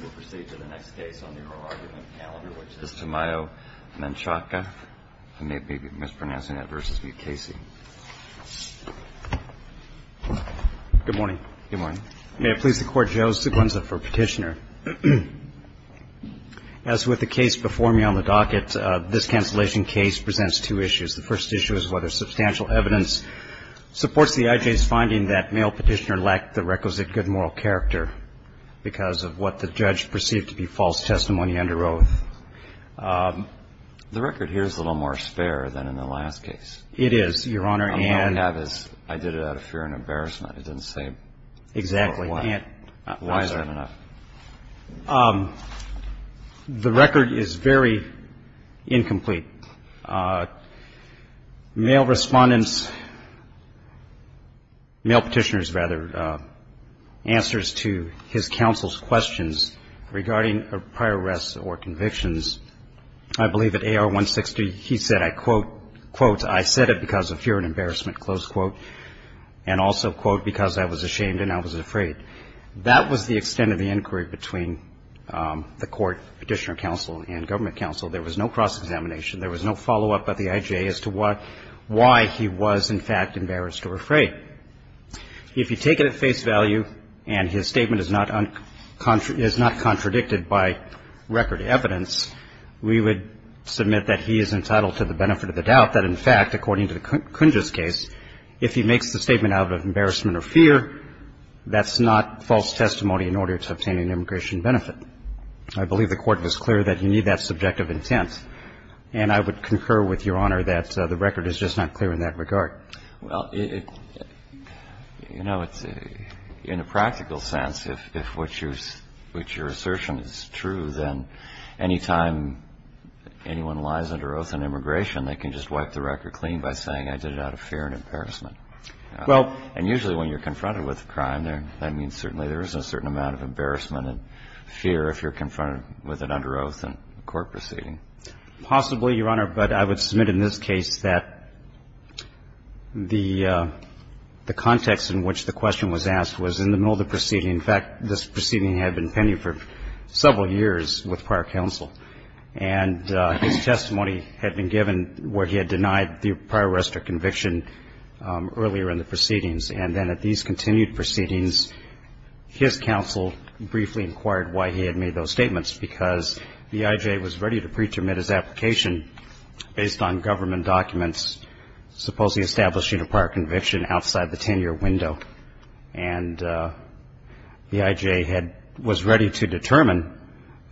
We'll proceed to the next case on the oral argument calendar, which is Tamayo-Menchaca. I may be mispronouncing it, versus Mukasey. Good morning. Good morning. May it please the Court, Joe Seguenza for Petitioner. As with the case before me on the docket, this cancellation case presents two issues. The first issue is whether substantial evidence supports the I.J.'s finding that male petitioner lacked the requisite good moral character because of what the judge perceived to be false testimony under oath. The record here is a little more spare than in the last case. It is, Your Honor. I did it out of fear and embarrassment. It didn't say why. Why is that enough? The record is very incomplete. Male respondents, male petitioners, rather, answers to his counsel's questions regarding prior arrests or convictions. I believe at A.R. 160, he said, I quote, quote, I said it because of fear and embarrassment, close quote, and also, quote, because I was ashamed and I was afraid. That was the extent of the inquiry between the Court Petitioner Counsel and Government Counsel. There was no cross-examination. There was no follow-up at the I.J. as to why he was, in fact, embarrassed or afraid. If you take it at face value and his statement is not contradicted by record evidence, we would submit that he is entitled to the benefit of the doubt that, in fact, according to the Kunjus case, if he makes the statement out of embarrassment or fear, that's not false testimony in order to obtain an immigration benefit. I believe the Court was clear that you need that subjective intent. And I would concur with Your Honor that the record is just not clear in that regard. Well, you know, in a practical sense, if what you're assertion is true, then any time anyone lies under oath in immigration, they can just wipe the record clean by saying I did it out of fear and embarrassment. Well, and usually when you're confronted with a crime, that means certainly there is a certain amount of embarrassment and fear if you're confronted with it under oath in a court proceeding. Possibly, Your Honor, but I would submit in this case that the context in which the question was asked was in the middle of the proceeding. In fact, this proceeding had been pending for several years with prior counsel. And his testimony had been given where he had denied the prior arrest or conviction earlier in the proceedings. And then at these continued proceedings, his counsel briefly inquired why he had made those statements, because B.I.J. was ready to pre-termine his application based on government documents supposedly establishing a prior conviction outside the 10-year window. And B.I.J. was ready to determine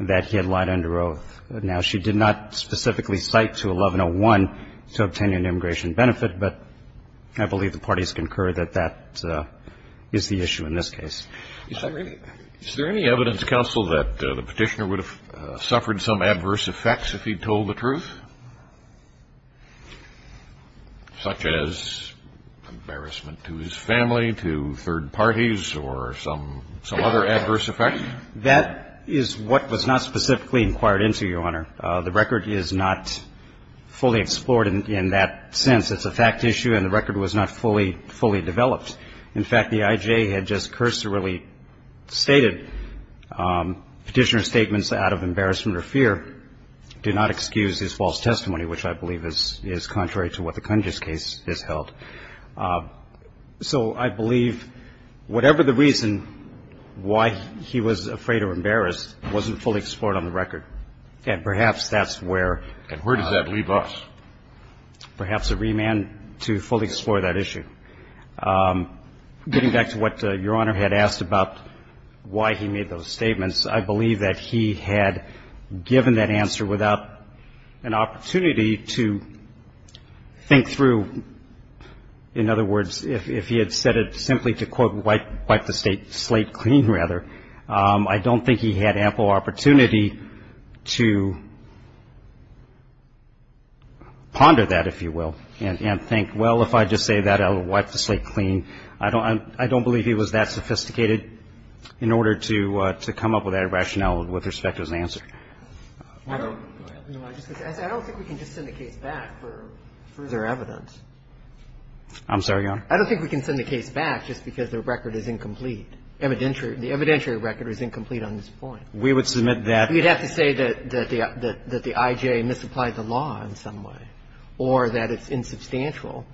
that he had lied under oath. Now, she did not specifically cite to 1101 to obtain an immigration benefit, but I believe the parties concur that that is the issue in this case. Is there any evidence, counsel, that the Petitioner would have suffered some adverse effects if he'd told the truth, such as embarrassment to his family, to third parties, or some other adverse effects? That is what was not specifically inquired into, Your Honor. The record is not fully explored in that sense. It's a fact issue, and the record was not fully developed. In fact, B.I.J. had just cursorily stated Petitioner's statements out of embarrassment or fear do not excuse his false testimony, which I believe is contrary to what the Congress case has held. So I believe whatever the reason why he was afraid or embarrassed wasn't fully explored on the record. And perhaps that's where. And where does that leave us? Perhaps a remand to fully explore that issue. Getting back to what Your Honor had asked about why he made those statements, I believe that he had given that answer without an opportunity to think through. In other words, if he had said it simply to, quote, wipe the slate clean, rather, I don't think he had ample opportunity to ponder that, if you will, and think, well, if I just say that, I'll wipe the slate clean. I don't believe he was that sophisticated in order to come up with that rationale with respect to his answer. I don't think we can just send the case back for further evidence. I'm sorry, Your Honor? I don't think we can send the case back just because the record is incomplete. The evidentiary record is incomplete on this point. We would submit that. You'd have to say that the I.J. misapplied the law in some way or that it's insubstantial.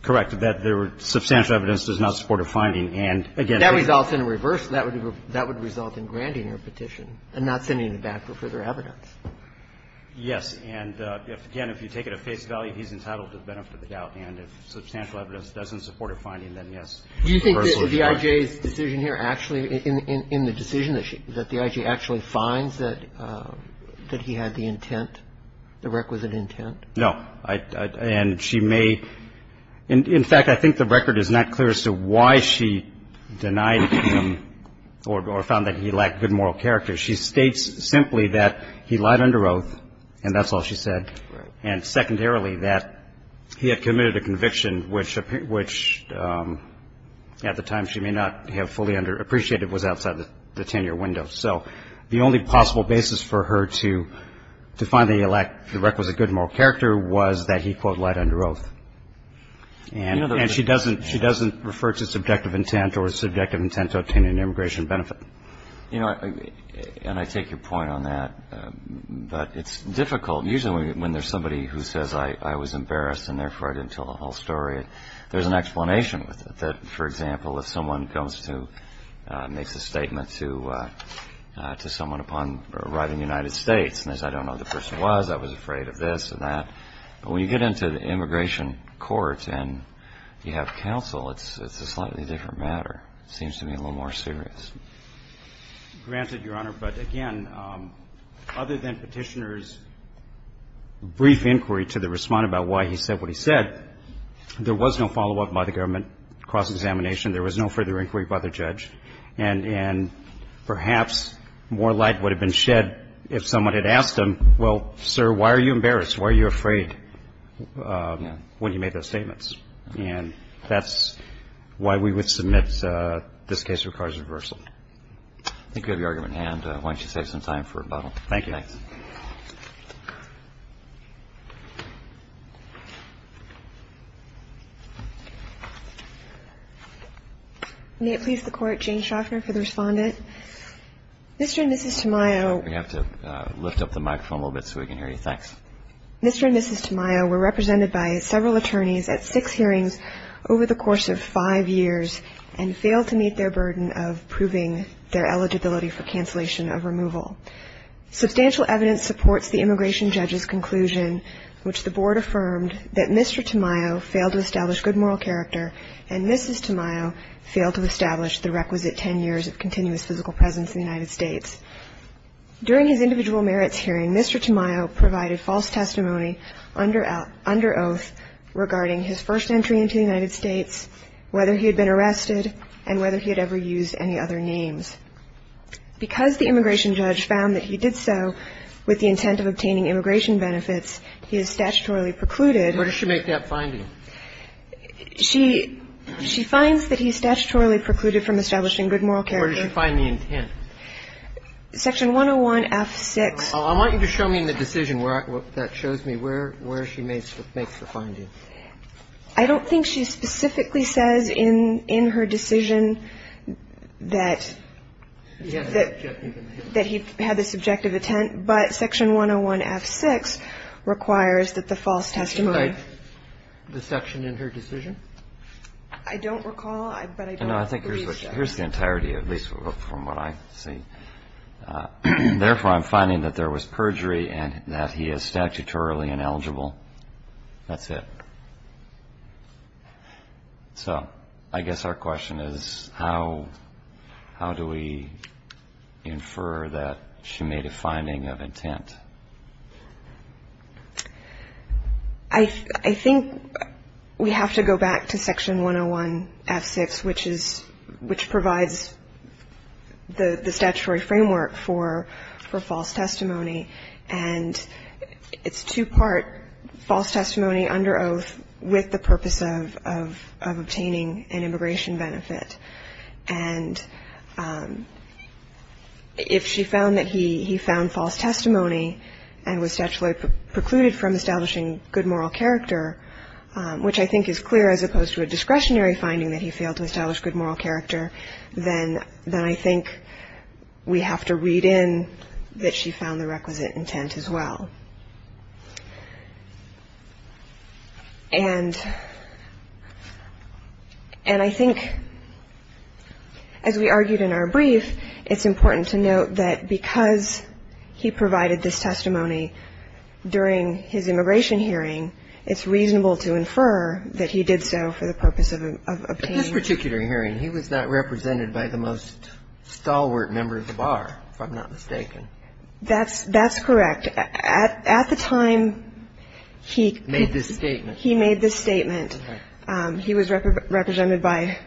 Correct. That there were substantial evidence does not support a finding. And, again, that results in a reverse. That would result in granting a petition and not sending it back for further evidence. Yes. And, again, if you take it at face value, he's entitled to the benefit of the doubt. And if substantial evidence doesn't support a finding, then, yes. Do you think that the I.J.'s decision here actually, in the decision, that the I.J. actually finds that he had the intent, the requisite intent? No. And she may, in fact, I think the record is not clear as to why she denied him or found that he lacked good moral character. She states simply that he lied under oath, and that's all she said, and secondarily, that he had committed a conviction which, at the time, she may not have fully appreciated was outside the 10-year window. So the only possible basis for her to find that he lacked the requisite good moral character was that he, quote, lied under oath. And she doesn't refer to subjective intent or subjective intent to obtain an immigration benefit. You know, and I take your point on that. But it's difficult. Usually, when there's somebody who says, I was embarrassed, and therefore, I didn't tell the whole story, there's an explanation with it. That, for example, if someone goes to, makes a statement to someone upon arriving in the United States, and says, I don't know who the person was, I was afraid of this and that. But when you get into the immigration court and you have counsel, it's a slightly different matter. Seems to me a little more serious. Granted, Your Honor, but again, other than Petitioner's brief inquiry to the Respondent about why he said what he said, there was no follow-up by the government cross-examination. There was no further inquiry by the judge. And perhaps more light would have been shed if someone had asked him, well, sir, why are you embarrassed? Why are you afraid when he made those statements? And that's why we would submit this case requires reversal. I think we have your argument in hand. Why don't you save some time for rebuttal? Thank you. Thanks. May it please the Court, Jane Shoffner for the Respondent. Mr. and Mrs. Tamayo. We have to lift up the microphone a little bit so we can hear you. Thanks. Mr. and Mrs. Tamayo were represented by several attorneys at six hearings over the course of five years and failed to meet their burden of proving their eligibility for cancellation of removal. Substantial evidence supports the immigration judge's conclusion, which the Board affirmed, that Mr. Tamayo failed to establish good moral character, and Mrs. Tamayo failed to establish the requisite 10 years of continuous physical presence in the United States. During his individual merits hearing, Mr. Tamayo provided false testimony under oath regarding his first entry into the United States, whether he had been arrested, and whether he had ever used any other names. Because the immigration judge found that he did so with the intent of obtaining immigration benefits, he is statutorily precluded. Where does she make that finding? She finds that he is statutorily precluded from establishing good moral character. Where does she find the intent? Section 101-F6. I want you to show me in the decision where that shows me where she makes the finding. I don't think she specifically says in her decision that he had this objective intent, but Section 101-F6 requires that the false testimony. Did she write the section in her decision? No, I think here's the entirety, at least from what I see. Therefore, I'm finding that there was perjury and that he is statutorily ineligible. That's it. So I guess our question is how do we infer that she made a finding of intent? I think we have to go back to Section 101-F6, which is, which provides the statutory framework for false testimony, and it's two-part false testimony under oath with the purpose of obtaining an immigration benefit. And if she found that he found false testimony and was statutorily precluded from establishing good moral character, which I think is clear as opposed to a discretionary finding that he failed to establish good moral character, then I think we have to read in that she found the requisite intent as well. And I think as we argued in our brief, it's important to note that because he provided this testimony during his immigration hearing, it's reasonable to infer that he did so for the purpose of obtaining an immigration benefit. In this particular hearing, he was not represented by the most stalwart member of the bar, if I'm not mistaken. That's correct. And at the time he made this statement, he was represented by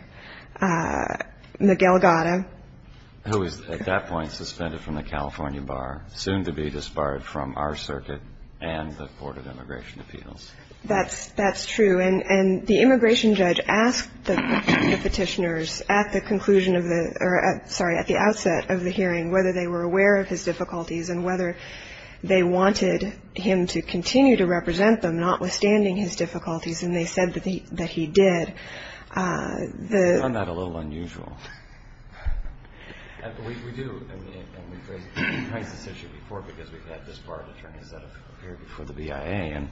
Miguel Gatta. Who was at that point suspended from the California bar, soon to be disbarred from our circuit and the Court of Immigration Appeals. That's true. And the immigration judge asked the Petitioners at the conclusion of the or, sorry, at the outset of the hearing whether they were aware of his difficulties and whether they wanted him to continue to represent them, notwithstanding his difficulties. And they said that he did. Isn't that a little unusual? We do. And we've raised this issue before because we've had disbarred attorneys that have appeared before the BIA.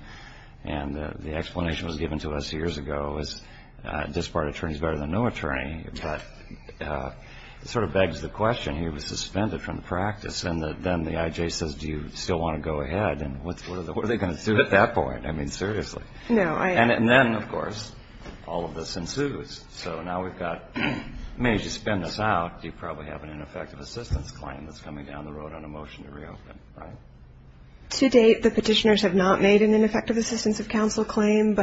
And the explanation that was given to us years ago was disbarred attorneys better than no attorney. But it sort of begs the question, he was suspended from practice. And then the IJ says, do you still want to go ahead? And what are they going to do at that point? I mean, seriously. No. And then, of course, all of this ensues. So now we've got, I mean, as you spin this out, you probably have an ineffective assistance claim that's coming down the road on a motion to reopen, right? To date, the Petitioners have not made an ineffective assistance of counsel claim.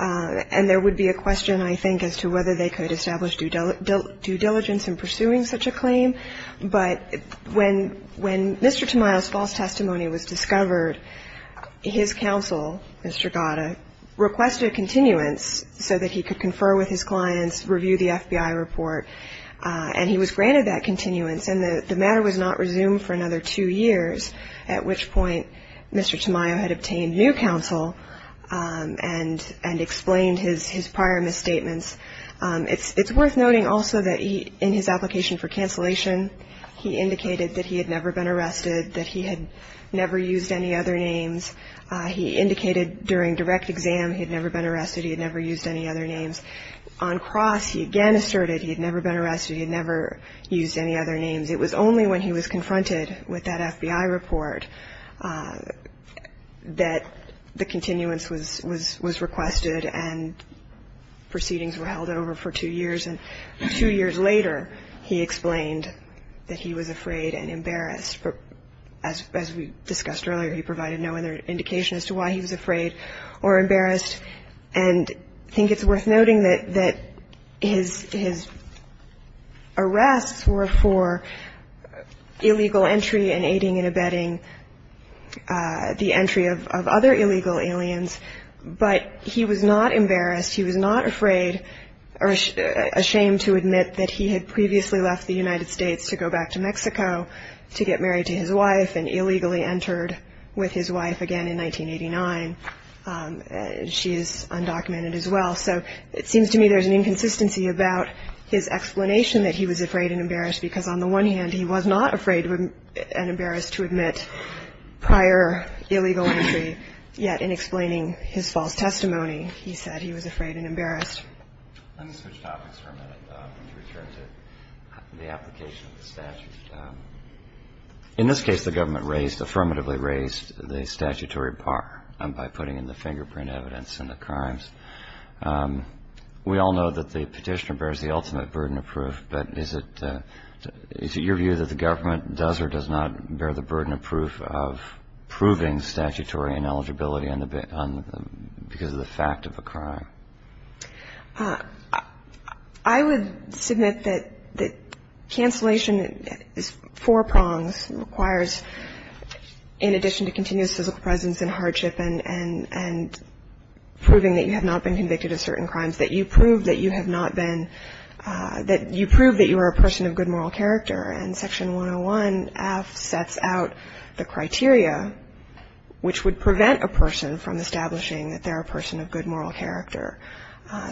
And there would be a question, I think, as to whether they could establish due diligence in pursuing such a claim. But when Mr. Tamayo's false testimony was discovered, his counsel, Mr. Gatta, requested a continuance so that he could confer with his clients, review the FBI report. And he was granted that continuance. And the matter was not resumed for another two years, at which point Mr. Tamayo had obtained new counsel and explained his prior misstatements. It's worth noting also that in his application for cancellation, he indicated that he had never been arrested, that he had never used any other names. He indicated during direct exam he had never been arrested, he had never used any other names. On cross, he again asserted he had never been arrested, he had never used any other names. It was only when he was confronted with that FBI report that the continuance was requested and proceedings were held over for two years. And two years later, he explained that he was afraid and embarrassed. As we discussed earlier, he provided no other indication as to why he was afraid or embarrassed. And I think it's worth noting that his arrests were for illegal entry and aiding and abetting the entry of other illegal aliens. But he was not embarrassed, he was not afraid or ashamed to admit that he had previously left the United States to go back to Mexico to get married to his wife and illegally entered with his wife again in 1989. And she is undocumented as well. So it seems to me there's an inconsistency about his explanation that he was afraid and embarrassed, because on the one hand, he was not afraid and embarrassed to admit prior illegal entry, yet in explaining his false testimony, he said he was afraid and embarrassed. Let me switch topics for a minute and return to the application of the statute. In this case, the government raised, affirmatively raised the statutory bar by putting in the fingerprint evidence in the crimes. We all know that the petitioner bears the ultimate burden of proof, but is it your view that the government does or does not bear the burden of proof of proving statutory ineligibility because of the fact of a crime? I would submit that cancellation is four prongs, requires in addition to continuous physical presence and hardship and proving that you have not been convicted of certain crimes, that you prove that you have not been, that you prove that you are a person of good moral character. And Section 101F sets out the criteria which would prevent a person from establishing that they're a person of good moral character.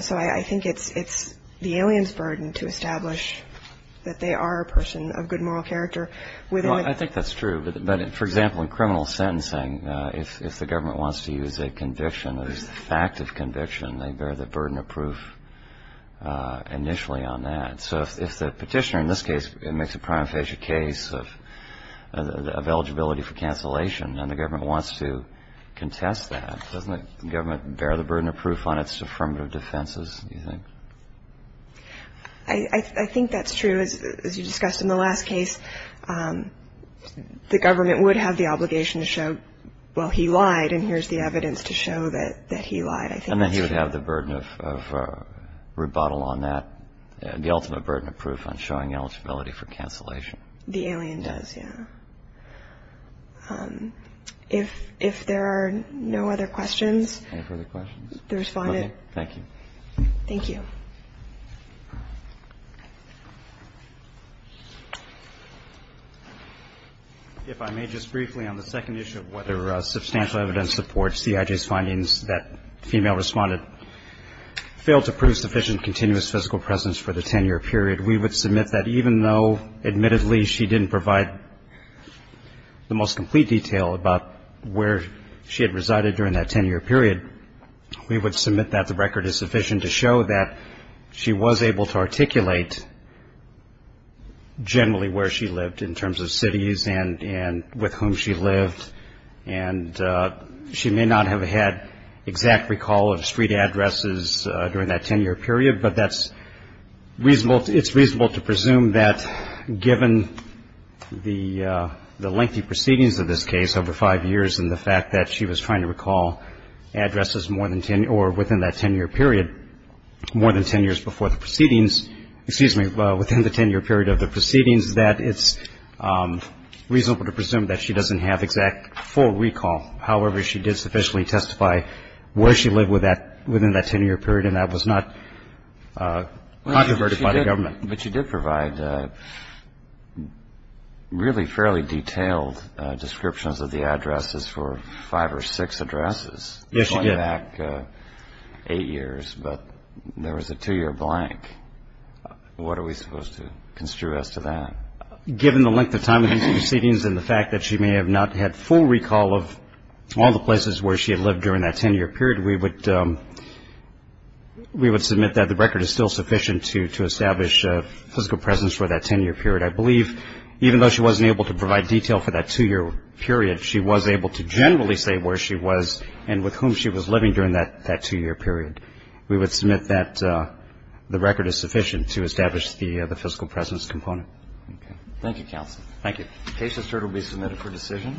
So I think it's the alien's burden to establish that they are a person of good moral character. Well, I think that's true, but for example, in criminal sentencing, if the government wants to use a conviction, a fact of conviction, they bear the burden of proof initially on that. So if the petitioner in this case makes a prima facie case of eligibility for cancellation and the government wants to contest that, doesn't the government bear the burden of proof on its affirmative defenses, do you think? I think that's true. As you discussed in the last case, the government would have the obligation to show, well, he lied and here's the evidence to show that he lied. And then he would have the burden of rebuttal on that, the ultimate burden of proof on showing eligibility for cancellation. The alien does, yeah. If there are no other questions. Any further questions? The Respondent. Thank you. Thank you. If I may just briefly on the second issue of whether substantial evidence supports C.I.J.'s findings that the female Respondent failed to prove sufficient continuous physical presence for the 10-year period, we would submit that even though, admittedly, she didn't provide the most complete detail about where she had resided during that 10-year period, we would submit that the record is sufficient to show that she was able to articulate generally where she lived in terms of cities and with whom she lived. And she may not have had exact recall of street addresses during that 10-year period, but that's reasonable, it's reasonable to presume that given the lengthy proceedings of this case over five years and the fact that she was trying to recall addresses more than 10 or within that 10-year period more than 10 years before the proceedings, excuse me, within the 10-year period of the proceedings, that it's reasonable to presume that she doesn't have exact full recall. However, she did sufficiently testify where she lived within that 10-year period and that was not controverted by the government. But she did provide really fairly detailed descriptions of the addresses for five or six addresses. Yes, she did. Going back eight years, but there was a two-year blank. What are we supposed to construe as to that? Given the length of time of these proceedings and the fact that she may have not had full recall of all the places where she had lived during that 10-year period, we would submit that the record is still sufficient to establish physical presence for that 10-year period. I believe even though she wasn't able to provide detail for that two-year period, she was able to generally say where she was and with whom she was living during that two-year period. We would submit that the record is sufficient to establish the physical presence component. Thank you, counsel. Thank you. The case is heard and will be submitted for decision.